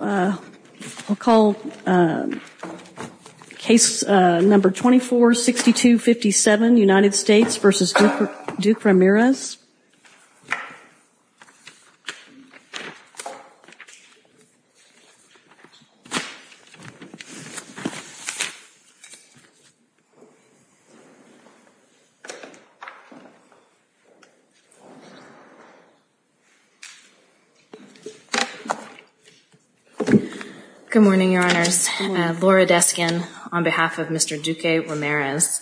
I'll call case number 246257, United States v. Duque-Ramirez. Good morning, Your Honors. Laura Deskin on behalf of Mr. Duque-Ramirez.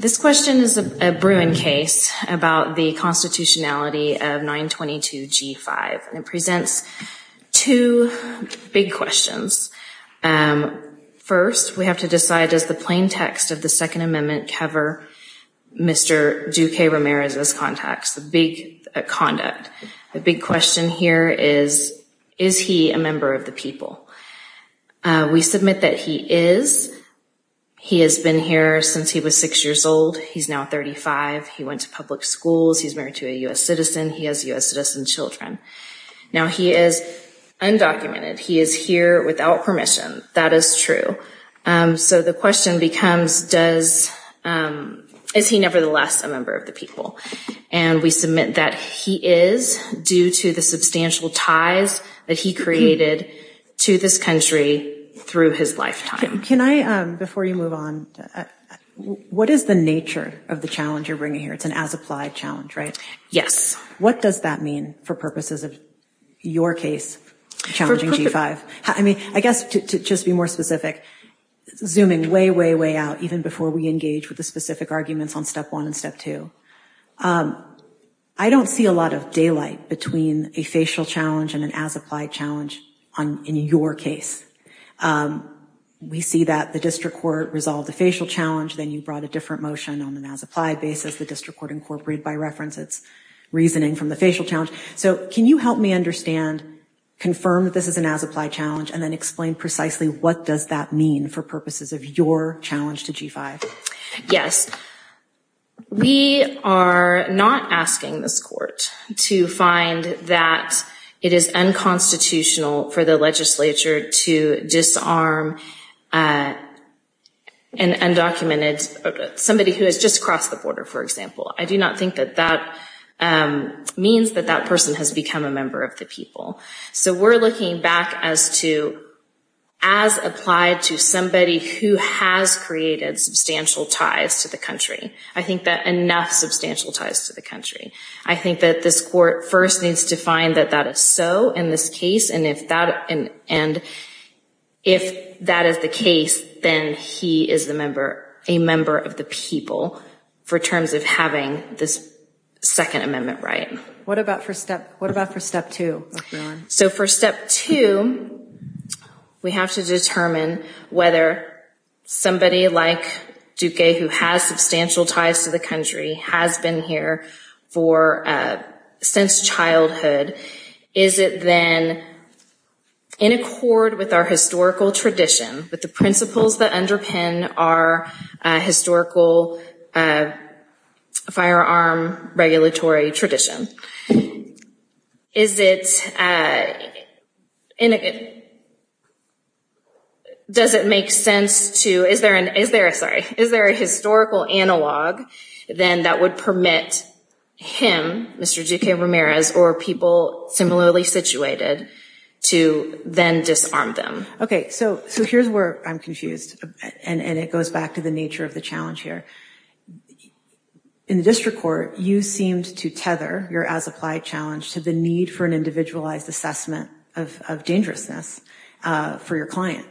This question is a Bruin case about the constitutionality of 922G5. It presents two big questions. First, we have to decide, does the plain text of the Second Amendment cover Mr. Duque-Ramirez's contacts, the big conduct? The big question here is, is he a member of the people? We submit that he is. He has been here since he was six years old. He's now 35. He went to public schools. He's married to a U.S. citizen. He has U.S. citizen children. Now, he is undocumented. He is here without permission. That is true. So the question becomes, is he nevertheless a member of the people? And we submit that he is, due to the substantial ties that he created to this country through his lifetime. Can I, before you move on, what is the nature of the challenge you're bringing here? It's an as-applied challenge, right? Yes. What does that mean for purposes of your case, challenging G5? I mean, I guess to just be more specific, zooming way, way, way out, even before we engage with the specific arguments on Step 1 and Step 2, I don't see a lot of daylight between a facial challenge and an as-applied challenge in your case. We see that the district court resolved the facial challenge, then you brought a different motion on an as-applied basis. The district court incorporated by reference its reasoning from the facial challenge. So can you help me understand, confirm that this is an as-applied challenge, and then explain precisely what does that mean for purposes of your challenge to G5? Yes. We are not asking this court to find that it is unconstitutional for the legislature to disarm an undocumented, somebody who has just crossed the border, for example. I do not think that that means that that person has become a member of the people. So we're looking back as to as-applied to somebody who has created substantial ties to the country. I think that enough substantial ties to the country. I think that this court first needs to find that that is so in this case, and if that is the case, then he is a member of the people for terms of having this Second Amendment right. What about for Step 2? So for Step 2, we have to determine whether somebody like Duque, who has substantial ties to the country, has been here since childhood. Is it then in accord with our historical tradition, with the principles that underpin our historical firearm regulatory tradition? Is it, does it make sense to, is there a historical analog then that would permit him, Mr. Duque Ramirez, or people similarly situated to then disarm them? Okay, so here's where I'm confused, and it goes back to the nature of the challenge here. In the district court, you seemed to tether your as-applied challenge to the need for an individualized assessment of dangerousness for your client,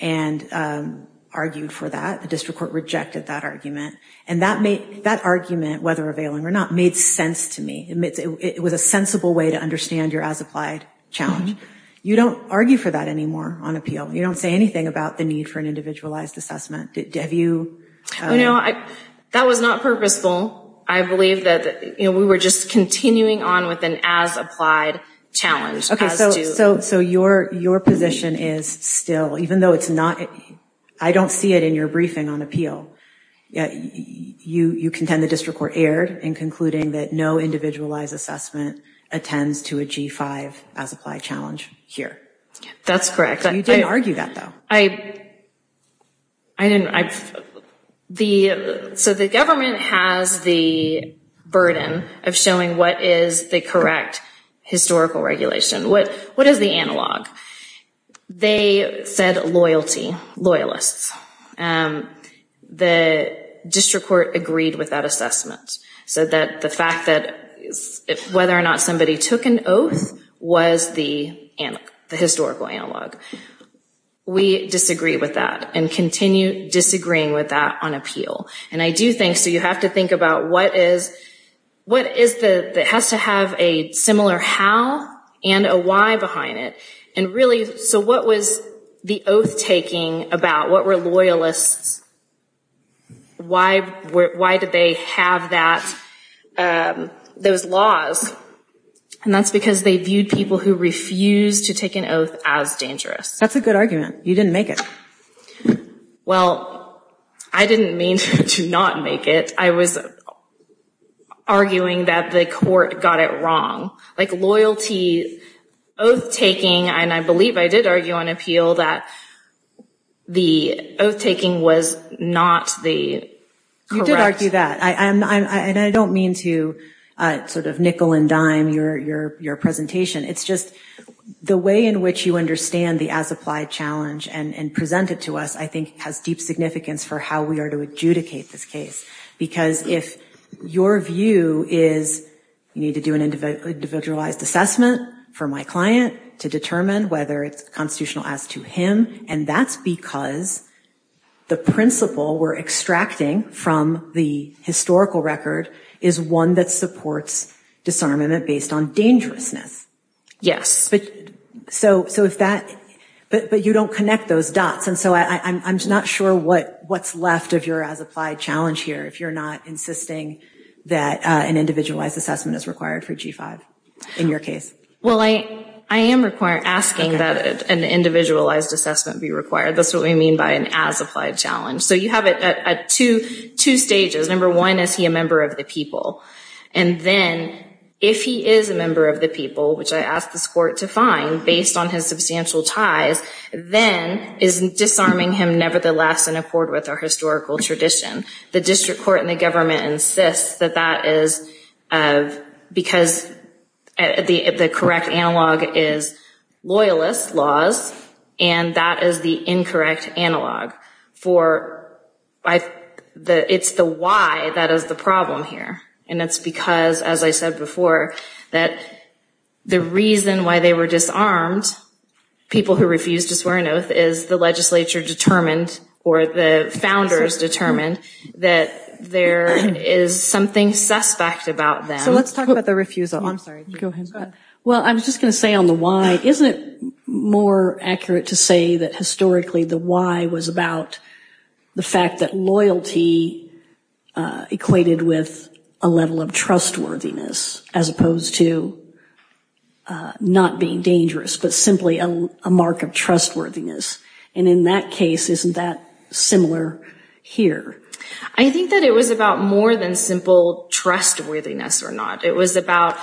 and argued for that. The district court rejected that argument, and that argument, whether availing or not, made sense to me. It was a sensible way to understand your as-applied challenge. You don't argue for that anymore on appeal. You don't say anything about the need for an individualized assessment. You know, that was not purposeful. I believe that we were just continuing on with an as-applied challenge. Okay, so your position is still, even though it's not, I don't see it in your briefing on appeal. You contend the district court erred in concluding that no individualized assessment attends to a G-5 as-applied challenge here. That's correct. You didn't argue that, though. I didn't. So the government has the burden of showing what is the correct historical regulation. What is the analog? They said loyalty, loyalists. The district court agreed with that assessment, so that the fact that whether or not somebody took an oath was the historical analog. We disagree with that and continue disagreeing with that on appeal. And I do think, so you have to think about what is, what is the, has to have a similar how and a why behind it. And really, so what was the oath-taking about? What were loyalists? Why did they have that, those laws? And that's because they viewed people who refused to take an oath as dangerous. That's a good argument. You didn't make it. Well, I didn't mean to not make it. I was arguing that the court got it wrong. Like loyalty, oath-taking, and I believe I did argue on appeal that the oath-taking was not the correct. You did argue that. And I don't mean to sort of nickel and dime your presentation. It's just the way in which you understand the as-applied challenge and present it to us I think has deep significance for how we are to adjudicate this case. Because if your view is you need to do an individualized assessment for my client to determine whether it's constitutional as to him, and that's because the principle we're extracting from the historical record is one that supports disarmament based on dangerousness. Yes. So if that, but you don't connect those dots. And so I'm just not sure what's left of your as-applied challenge here, if you're not insisting that an individualized assessment is required for G-5 in your case. Well, I am asking that an individualized assessment be required. That's what we mean by an as-applied challenge. So you have it at two stages. Number one, is he a member of the people? And then if he is a member of the people, which I asked this court to find based on his substantial ties, then is disarming him nevertheless in accord with our historical tradition? The district court and the government insists that that is because the correct analog is loyalist laws, and that is the incorrect analog for, it's the why that is the problem here. And it's because, as I said before, that the reason why they were disarmed, people who refused to swear an oath, is the legislature determined or the founders determined that there is something suspect about them. So let's talk about the refusal. I'm sorry. Go ahead. Well, I was just going to say on the why, isn't it more accurate to say that historically the why was about the fact that loyalty equated with a level of trustworthiness as opposed to not being dangerous, but simply a mark of trustworthiness? And in that case, isn't that similar here? I think that it was about more than simple trustworthiness or not. It was about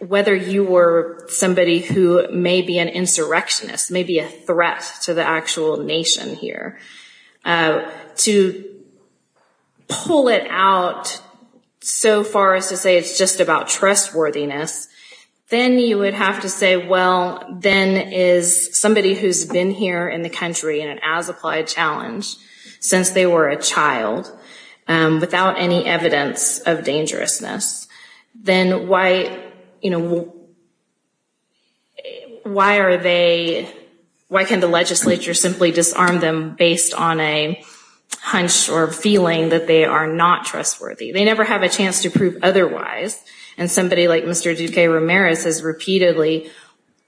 whether you were somebody who may be an insurrectionist, maybe a threat to the actual nation here. To pull it out so far as to say it's just about trustworthiness, then you would have to say, well, then is somebody who's been here in the country in an as-applied challenge since they were a child, without any evidence of dangerousness, then why can the legislature simply disarm them based on a hunch or feeling that they are not trustworthy? They never have a chance to prove otherwise, and somebody like Mr. Duque Ramirez has repeatedly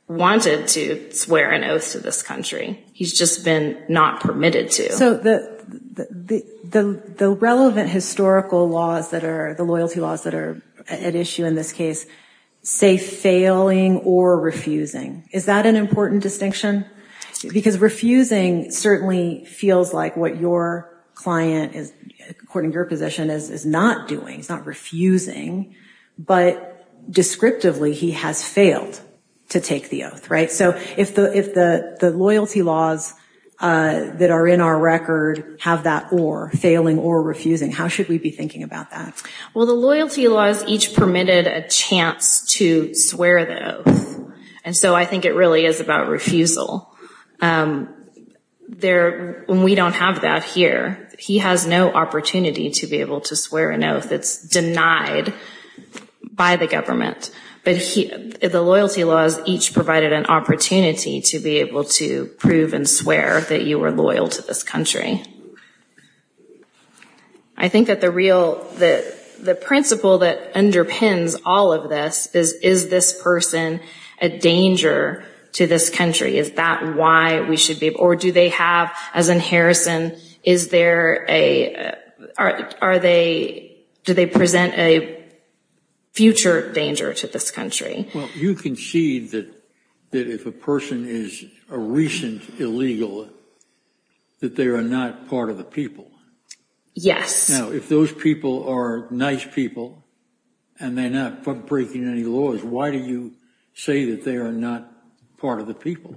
wanted to swear an oath to this country. He's just been not permitted to. So the relevant historical laws that are, the loyalty laws that are at issue in this case, say failing or refusing. Is that an important distinction? Because refusing certainly feels like what your client, according to your position, is not doing. He's not refusing, but descriptively he has failed to take the oath, right? So if the loyalty laws that are in our record have that or, failing or refusing, how should we be thinking about that? Well, the loyalty laws each permitted a chance to swear the oath. And so I think it really is about refusal. When we don't have that here, he has no opportunity to be able to swear an oath that's denied by the government. But the loyalty laws each provided an opportunity to be able to prove and swear that you were loyal to this country. I think that the real, the principle that underpins all of this is, is this person a danger to this country? Is that why we should be, or do they have, as in Harrison, is there a, are they, do they present a future danger to this country? Well, you concede that if a person is a recent illegal, that they are not part of the people. Yes. Now, if those people are nice people and they're not breaking any laws, why do you say that they are not part of the people?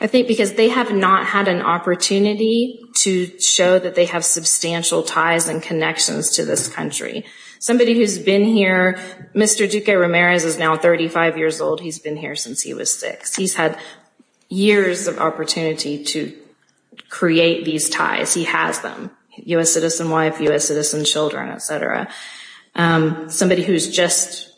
I think because they have not had an opportunity to show that they have substantial ties and connections to this country. Somebody who's been here, Mr. Duque Ramirez is now 35 years old. He's been here since he was six. He's had years of opportunity to create these ties. He has them. U.S. citizen wife, U.S. citizen children, et cetera. Somebody who's just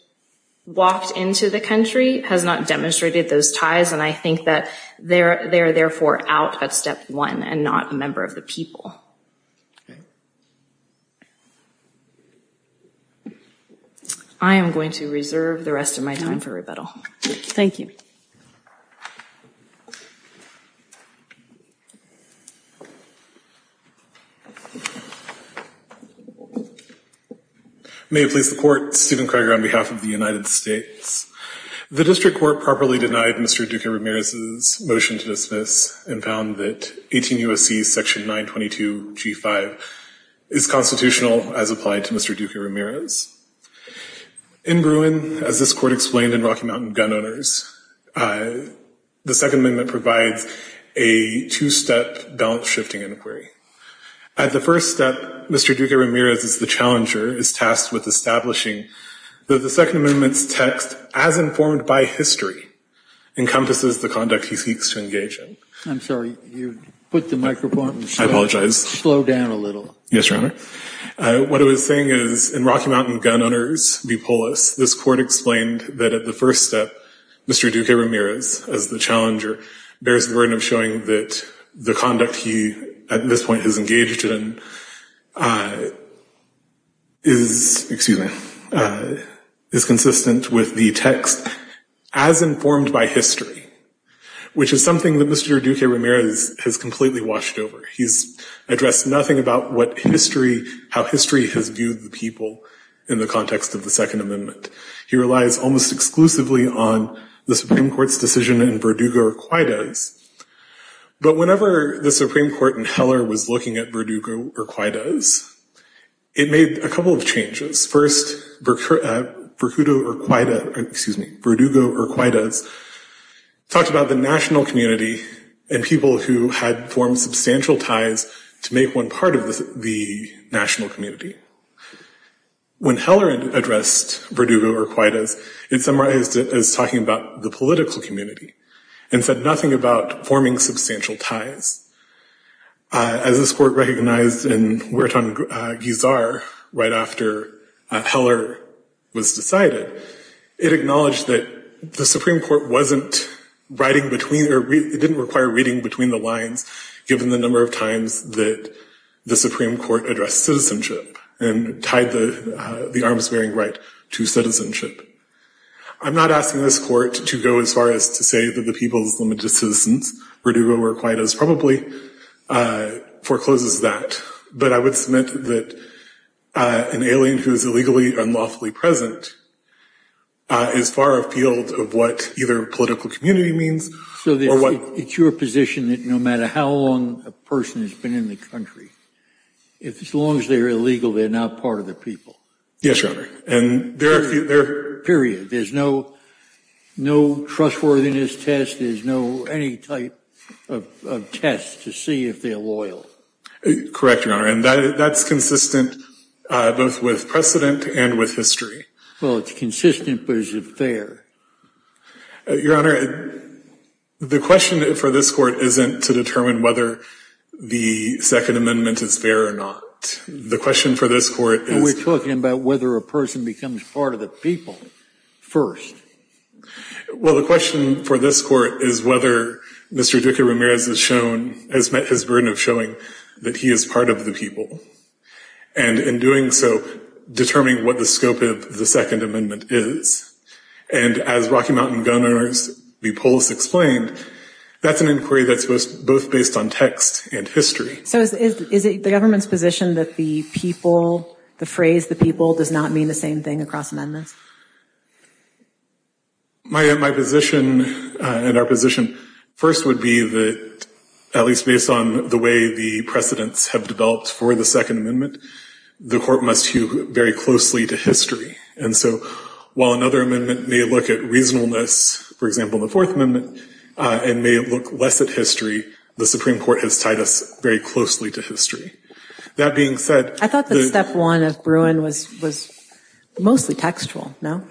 walked into the country has not demonstrated those ties. And I think that they're, they're therefore out at step one and not a member of the people. Okay. I am going to reserve the rest of my time for rebuttal. Thank you. May it please the court, Stephen Craig on behalf of the United States. The district court properly denied Mr. Duque Ramirez's motion to dismiss and found that 18 U.S.C. section 922 G5 is constitutional as applied to Mr. Duque Ramirez. In Bruin, as this court explained in Rocky Mountain Gun Owners, the Second Amendment provides a two-step balance shifting inquiry. At the first step, Mr. Duque Ramirez is the challenger, is tasked with establishing that the Second Amendment's text, as informed by history, encompasses the conduct he seeks to engage in. I'm sorry. You put the microphone. I apologize. Slow down a little. Yes, Your Honor. What I was saying is, in Rocky Mountain Gun Owners v. Polis, this court explained that at the first step, Mr. Duque Ramirez, as the challenger, bears the burden of showing that the conduct he, at this point, has engaged in is, excuse me, is consistent with the text as informed by history, which is something that Mr. Duque Ramirez has completely washed over. He's addressed nothing about what history, how history has viewed the people in the context of the Second Amendment. He relies almost exclusively on the Supreme Court's decision in Verdugo Urquidez. But whenever the Supreme Court in Heller was looking at Verdugo Urquidez, it made a couple of changes. First, Verdugo Urquidez talked about the national community and people who had formed substantial ties to make one part of the national community. When Heller addressed Verdugo Urquidez, it summarized it as talking about the political community and said nothing about forming substantial ties. As this court recognized in Huertanguizar, right after Heller was decided, it acknowledged that the Supreme Court wasn't writing between, or it didn't require reading between the lines, given the number of times that the Supreme Court addressed citizenship and tied the arms-wearing right to citizenship. I'm not asking this court to go as far as to say that the people's limited citizens, Verdugo Urquidez probably forecloses that. But I would submit that an alien who is illegally or unlawfully present is far afield of what either political community means or what- So it's your position that no matter how long a person has been in the country, as long as they're illegal, they're not part of the people? Yes, Your Honor. Period. There's no trustworthiness test. There's no any type of test to see if they're loyal. Correct, Your Honor. And that's consistent both with precedent and with history. Well, it's consistent, but is it fair? Your Honor, the question for this court isn't to determine whether the Second Amendment is fair or not. The question for this court is- Well, the question for this court is whether Mr. Duque Ramirez has shown, has met his burden of showing that he is part of the people. And in doing so, determining what the scope of the Second Amendment is. And as Rocky Mountain Gun Owners B. Polis explained, that's an inquiry that's both based on text and history. So is it the government's position that the people, the phrase the people does not mean the same thing across amendments? My position and our position first would be that, at least based on the way the precedents have developed for the Second Amendment, the court must view very closely to history. And so while another amendment may look at reasonableness, for example, the Fourth Amendment, and may look less at history, the Supreme Court has tied us very closely to history. That being said- I thought the step one of Bruin was mostly textual, no?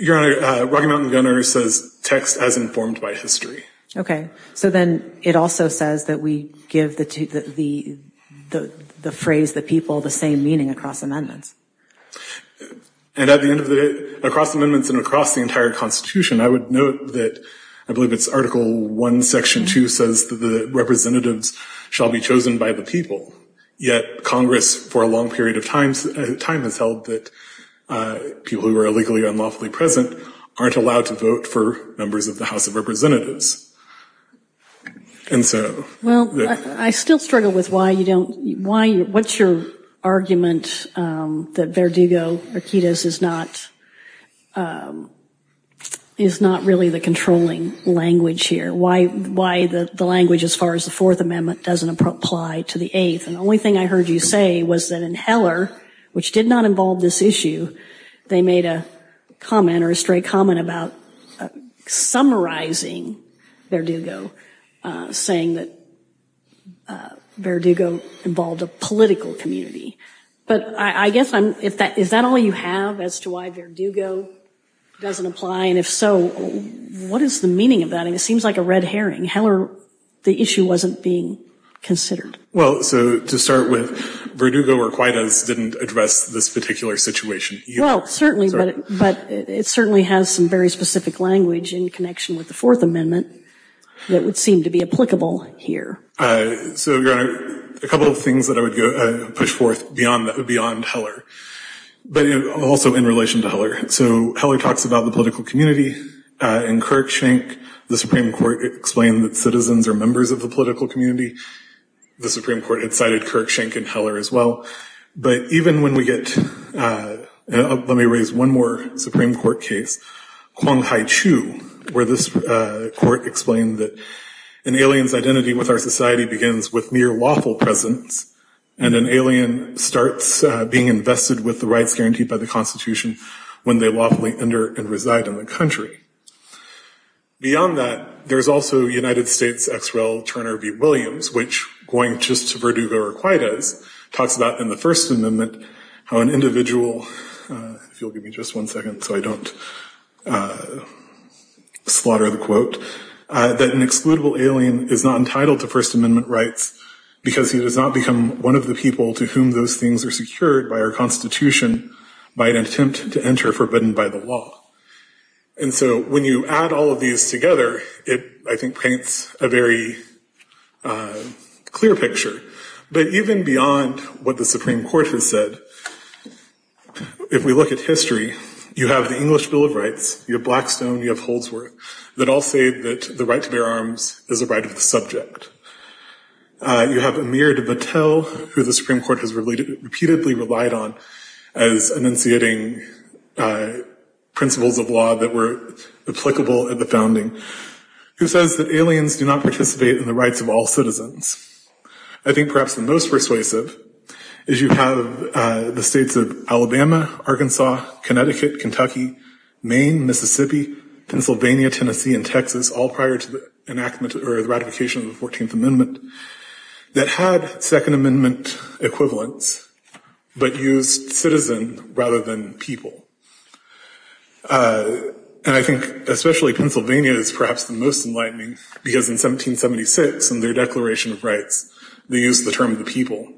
Your Honor, Rocky Mountain Gun Owners says text as informed by history. Okay. So then it also says that we give the phrase the people the same meaning across amendments. And at the end of the day, across amendments and across the entire Constitution, I would note that I believe it's Article I, Section 2 says that the representatives shall be chosen by the people. Yet Congress, for a long period of time, has held that people who are illegally or unlawfully present aren't allowed to vote for members of the House of Representatives. And so- And the only thing I heard you say was that in Heller, which did not involve this issue, they made a comment or a straight comment about summarizing Verdugo, saying that Verdugo involved a political community. But I guess I'm- is that all you have as to why Verdugo doesn't apply? And if so, what is the meaning of that? And it seems like a red herring. Heller, the issue wasn't being considered. Well, so to start with, Verdugo or Quaidas didn't address this particular situation. Well, certainly, but it certainly has some very specific language in connection with the Fourth Amendment that would seem to be applicable here. So, Your Honor, a couple of things that I would push forth beyond Heller, but also in relation to Heller. So Heller talks about the political community. In Kirkshank, the Supreme Court explained that citizens are members of the political community. The Supreme Court had cited Kirkshank in Heller as well. But even when we get- let me raise one more Supreme Court case, Quang Hai Chu, where this court explained that an alien's identity with our society begins with mere lawful presence, and an alien starts being invested with the rights guaranteed by the Constitution when they lawfully enter and reside in the country. Beyond that, there's also United States ex-rel Turner v. Williams, which, going just to Verdugo or Quaidas, talks about in the First Amendment how an individual- if you'll give me just one second so I don't slaughter the quote- that an excludable alien is not entitled to First Amendment rights because he does not become one of the people to whom those things are secured by our Constitution by an attempt to enter forbidden by the law. And so when you add all of these together, it, I think, paints a very clear picture. But even beyond what the Supreme Court has said, if we look at history, you have the English Bill of Rights, you have Blackstone, you have Holdsworth, that all say that the right to bear arms is a right of the subject. You have Amir Battelle, who the Supreme Court has repeatedly relied on as enunciating principles of law that were applicable at the founding, who says that aliens do not participate in the rights of all citizens. I think perhaps the most persuasive is you have the states of Alabama, Arkansas, Connecticut, Kentucky, Maine, Mississippi, Pennsylvania, Tennessee, and Texas, all prior to the enactment or the ratification of the 14th Amendment, that had Second Amendment equivalents but used citizen rather than people. And I think especially Pennsylvania is perhaps the most enlightening because in 1776, in their Declaration of Rights, they used the term the people.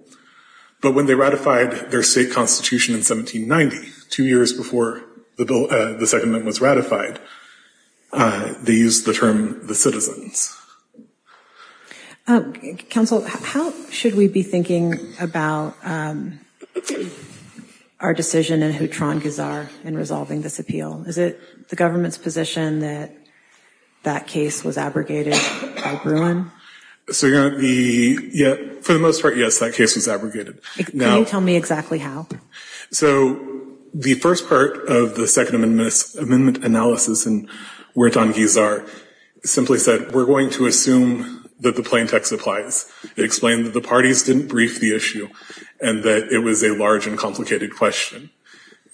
But when they ratified their state constitution in 1790, two years before the Second Amendment was ratified, they used the term the citizens. Counsel, how should we be thinking about our decision in Hutron-Guzar in resolving this appeal? Is it the government's position that that case was abrogated by Bruin? For the most part, yes, that case was abrogated. Can you tell me exactly how? So the first part of the Second Amendment analysis in Hutron-Guzar simply said we're going to assume that the plaintext applies. It explained that the parties didn't brief the issue and that it was a large and complicated question.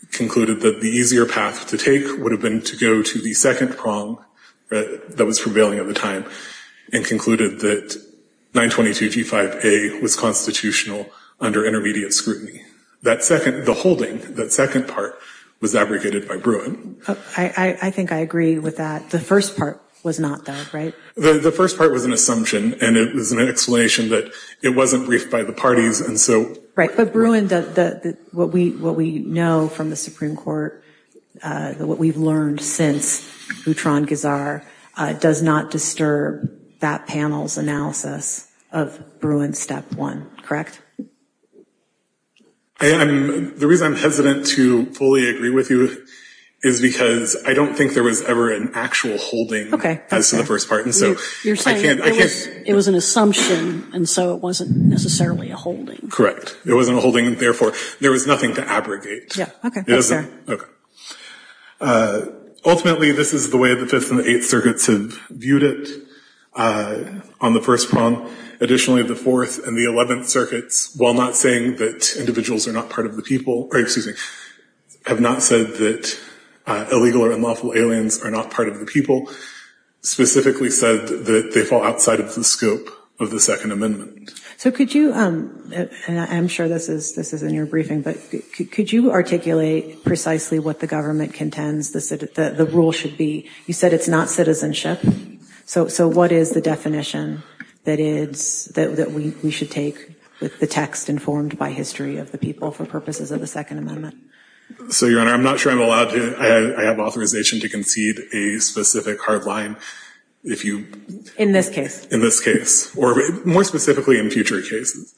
It concluded that the easier path to take would have been to go to the second prong that was prevailing at the time. It concluded that 922G5A was constitutional under intermediate scrutiny. The holding, that second part, was abrogated by Bruin. I think I agree with that. The first part was not, though, right? The first part was an assumption, and it was an explanation that it wasn't briefed by the parties. But Bruin, what we know from the Supreme Court, what we've learned since Hutron-Guzar, does not disturb that panel's analysis of Bruin's step one, correct? The reason I'm hesitant to fully agree with you is because I don't think there was ever an actual holding as to the first part. You're saying it was an assumption, and so it wasn't necessarily a holding. Correct. It wasn't a holding, and therefore, there was nothing to abrogate. Okay, thanks, sir. Ultimately, this is the way the Fifth and the Eighth Circuits have viewed it on the first prong. Additionally, the Fourth and the Eleventh Circuits, while not saying that individuals are not part of the people, or excuse me, have not said that illegal or unlawful aliens are not part of the people, specifically said that they fall outside of the scope of the Second Amendment. So could you, and I'm sure this is in your briefing, but could you articulate precisely what the government contends the rule should be? You said it's not citizenship. So what is the definition that we should take with the text informed by history of the people for purposes of the Second Amendment? So, Your Honor, I'm not sure I'm allowed to, I have authorization to concede a specific hard line. In this case? In this case, or more specifically in future cases.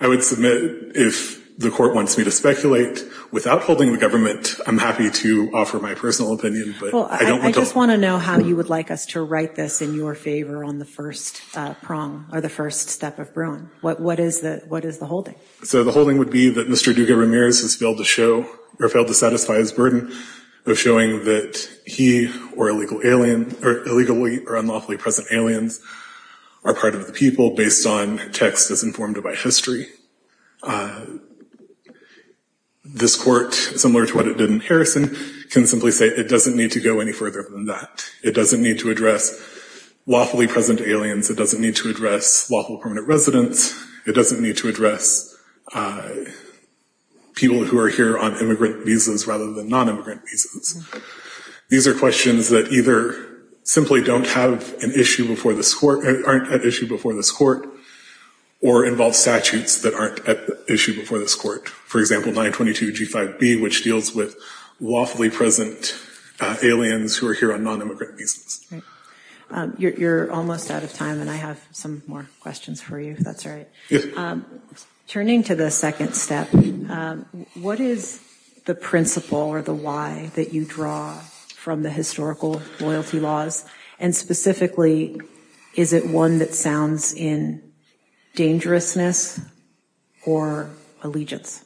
I would submit if the court wants me to speculate, without holding the government, I'm happy to offer my personal opinion. Well, I just want to know how you would like us to write this in your favor on the first prong, or the first step of Bruin. What is the holding? So the holding would be that Mr. Duga Ramirez has failed to show, or failed to satisfy his burden of showing that he or illegal alien, or illegally or unlawfully present aliens are part of the people based on text as informed by history. This court, similar to what it did in Harrison, can simply say it doesn't need to go any further than that. It doesn't need to address lawfully present aliens. It doesn't need to address lawful permanent residents. It doesn't need to address people who are here on immigrant visas rather than non-immigrant visas. These are questions that either simply don't have an issue before this court, aren't an issue before this court, or involve statutes that aren't an issue before this court. For example, 922 G5B, which deals with lawfully present aliens who are here on non-immigrant visas. You're almost out of time, and I have some more questions for you, if that's all right. Turning to the second step, what is the principle or the why that you draw from the historical loyalty laws? And specifically, is it one that sounds in dangerousness or allegiance?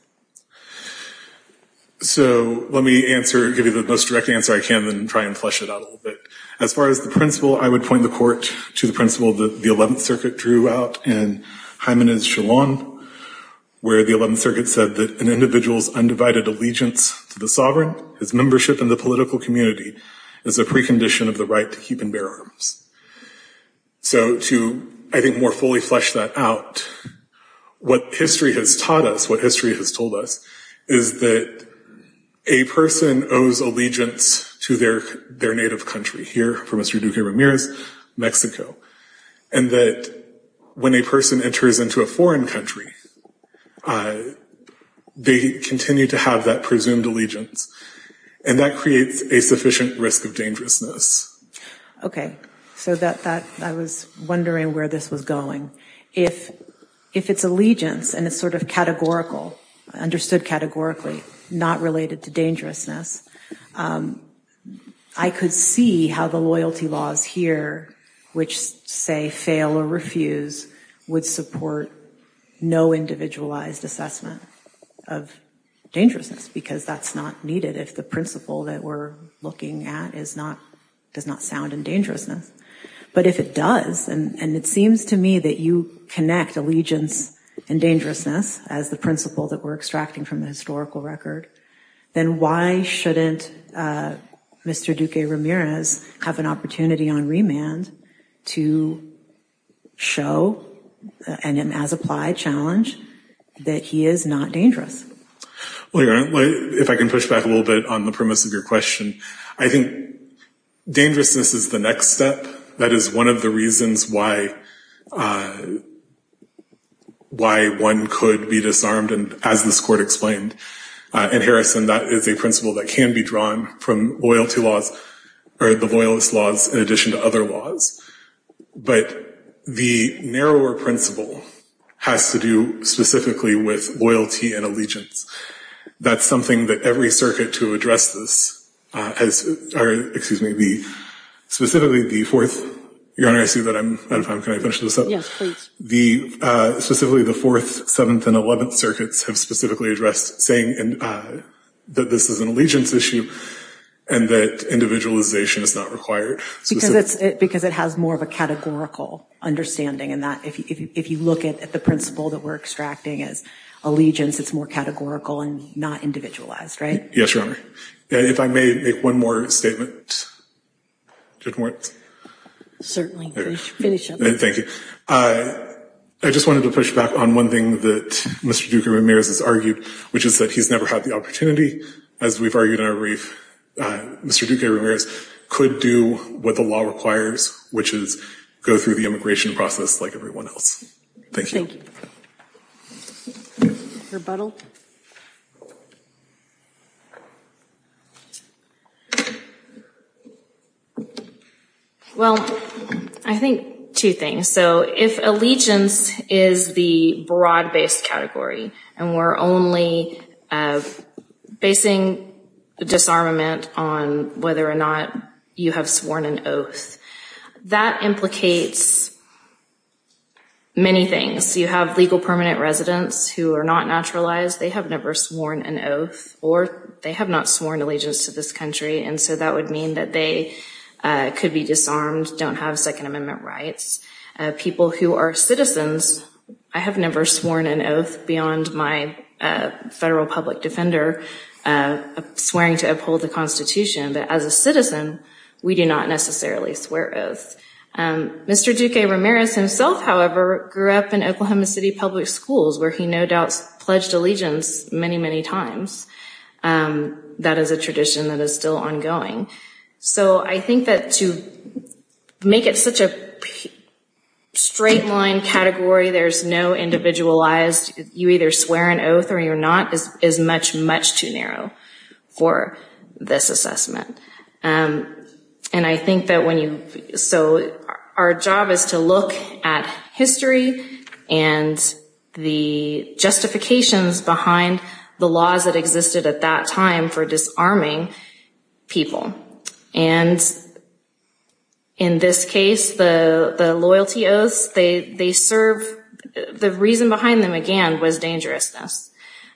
So, let me answer, give you the most direct answer I can, then try and flesh it out a little bit. As far as the principle, I would point the court to the principle that the 11th Circuit drew out in Hymenes Shalom, where the 11th Circuit said that an individual's undivided allegiance to the sovereign, his membership in the political community, is a precondition of the right to keep and bear arms. So, to, I think, more fully flesh that out, what history has taught us, what history has told us, is that a person owes allegiance to their native country. Here, for Mr. Duque Ramirez, Mexico. And that when a person enters into a foreign country, they continue to have that presumed allegiance. And that creates a sufficient risk of dangerousness. Okay, so that, I was wondering where this was going. If it's allegiance, and it's sort of categorical, understood categorically, not related to dangerousness, I could see how the loyalty laws here, which say fail or refuse, would support no individualized assessment of dangerousness, because that's not needed if the principle that we're looking at does not sound in dangerousness. But if it does, and it seems to me that you connect allegiance and dangerousness as the principle that we're extracting from the historical record, then why shouldn't Mr. Duque Ramirez have an opportunity on remand to show, and as applied challenge, that he is not dangerous? Well, Your Honor, if I can push back a little bit on the premise of your question, I think dangerousness is the next step. That is one of the reasons why one could be disarmed, as this court explained. In Harrison, that is a principle that can be drawn from loyalty laws, or the loyalist laws, in addition to other laws. But the narrower principle has to do specifically with loyalty and allegiance. That's something that every circuit to address this has, or excuse me, specifically the fourth, Your Honor, I see that I'm out of time. Can I finish this up? Yes, please. Specifically the fourth, seventh, and eleventh circuits have specifically addressed saying that this is an allegiance issue, and that individualization is not required. Because it has more of a categorical understanding, and that if you look at the principle that we're extracting as allegiance, it's more categorical and not individualized, right? Yes, Your Honor. If I may make one more statement. Certainly, finish up. Thank you. I just wanted to push back on one thing that Mr. Duque-Ramirez has argued, which is that he's never had the opportunity, as we've argued in our brief. Mr. Duque-Ramirez could do what the law requires, which is go through the immigration process like everyone else. Thank you. Thank you. Rebuttal. Well, I think two things. So if allegiance is the broad-based category, and we're only basing disarmament on whether or not you have sworn an oath, that implicates many things. You have legal permanent residents who are not naturalized. They have never sworn an oath, or they have not sworn allegiance to this country, and so that would mean that they could be disarmed, don't have Second Amendment rights. People who are citizens, I have never sworn an oath beyond my federal public defender swearing to uphold the Constitution. But as a citizen, we do not necessarily swear oaths. Mr. Duque-Ramirez himself, however, grew up in Oklahoma City public schools where he no doubt pledged allegiance many, many times. That is a tradition that is still ongoing. So I think that to make it such a straight-line category, there's no individualized, you either swear an oath or you're not, is much, much too narrow for this assessment. And I think that when you, so our job is to look at history and the justifications behind the laws that existed at that time for disarming people. And in this case, the loyalty oaths, they serve, the reason behind them, again, was dangerousness.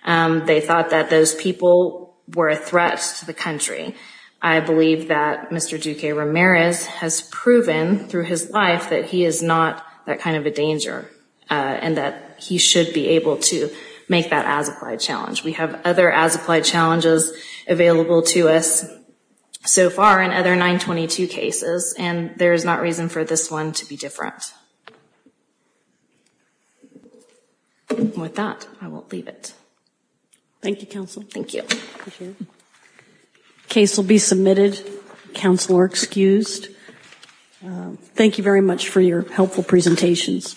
They thought that those people were a threat to the country. I believe that Mr. Duque-Ramirez has proven through his life that he is not that kind of a danger and that he should be able to make that as-applied challenge. We have other as-applied challenges available to us so far in other 922 cases, and there is not reason for this one to be different. With that, I will leave it. Thank you, Counsel. Thank you. The case will be submitted. Counsel are excused. Thank you very much for your helpful presentations.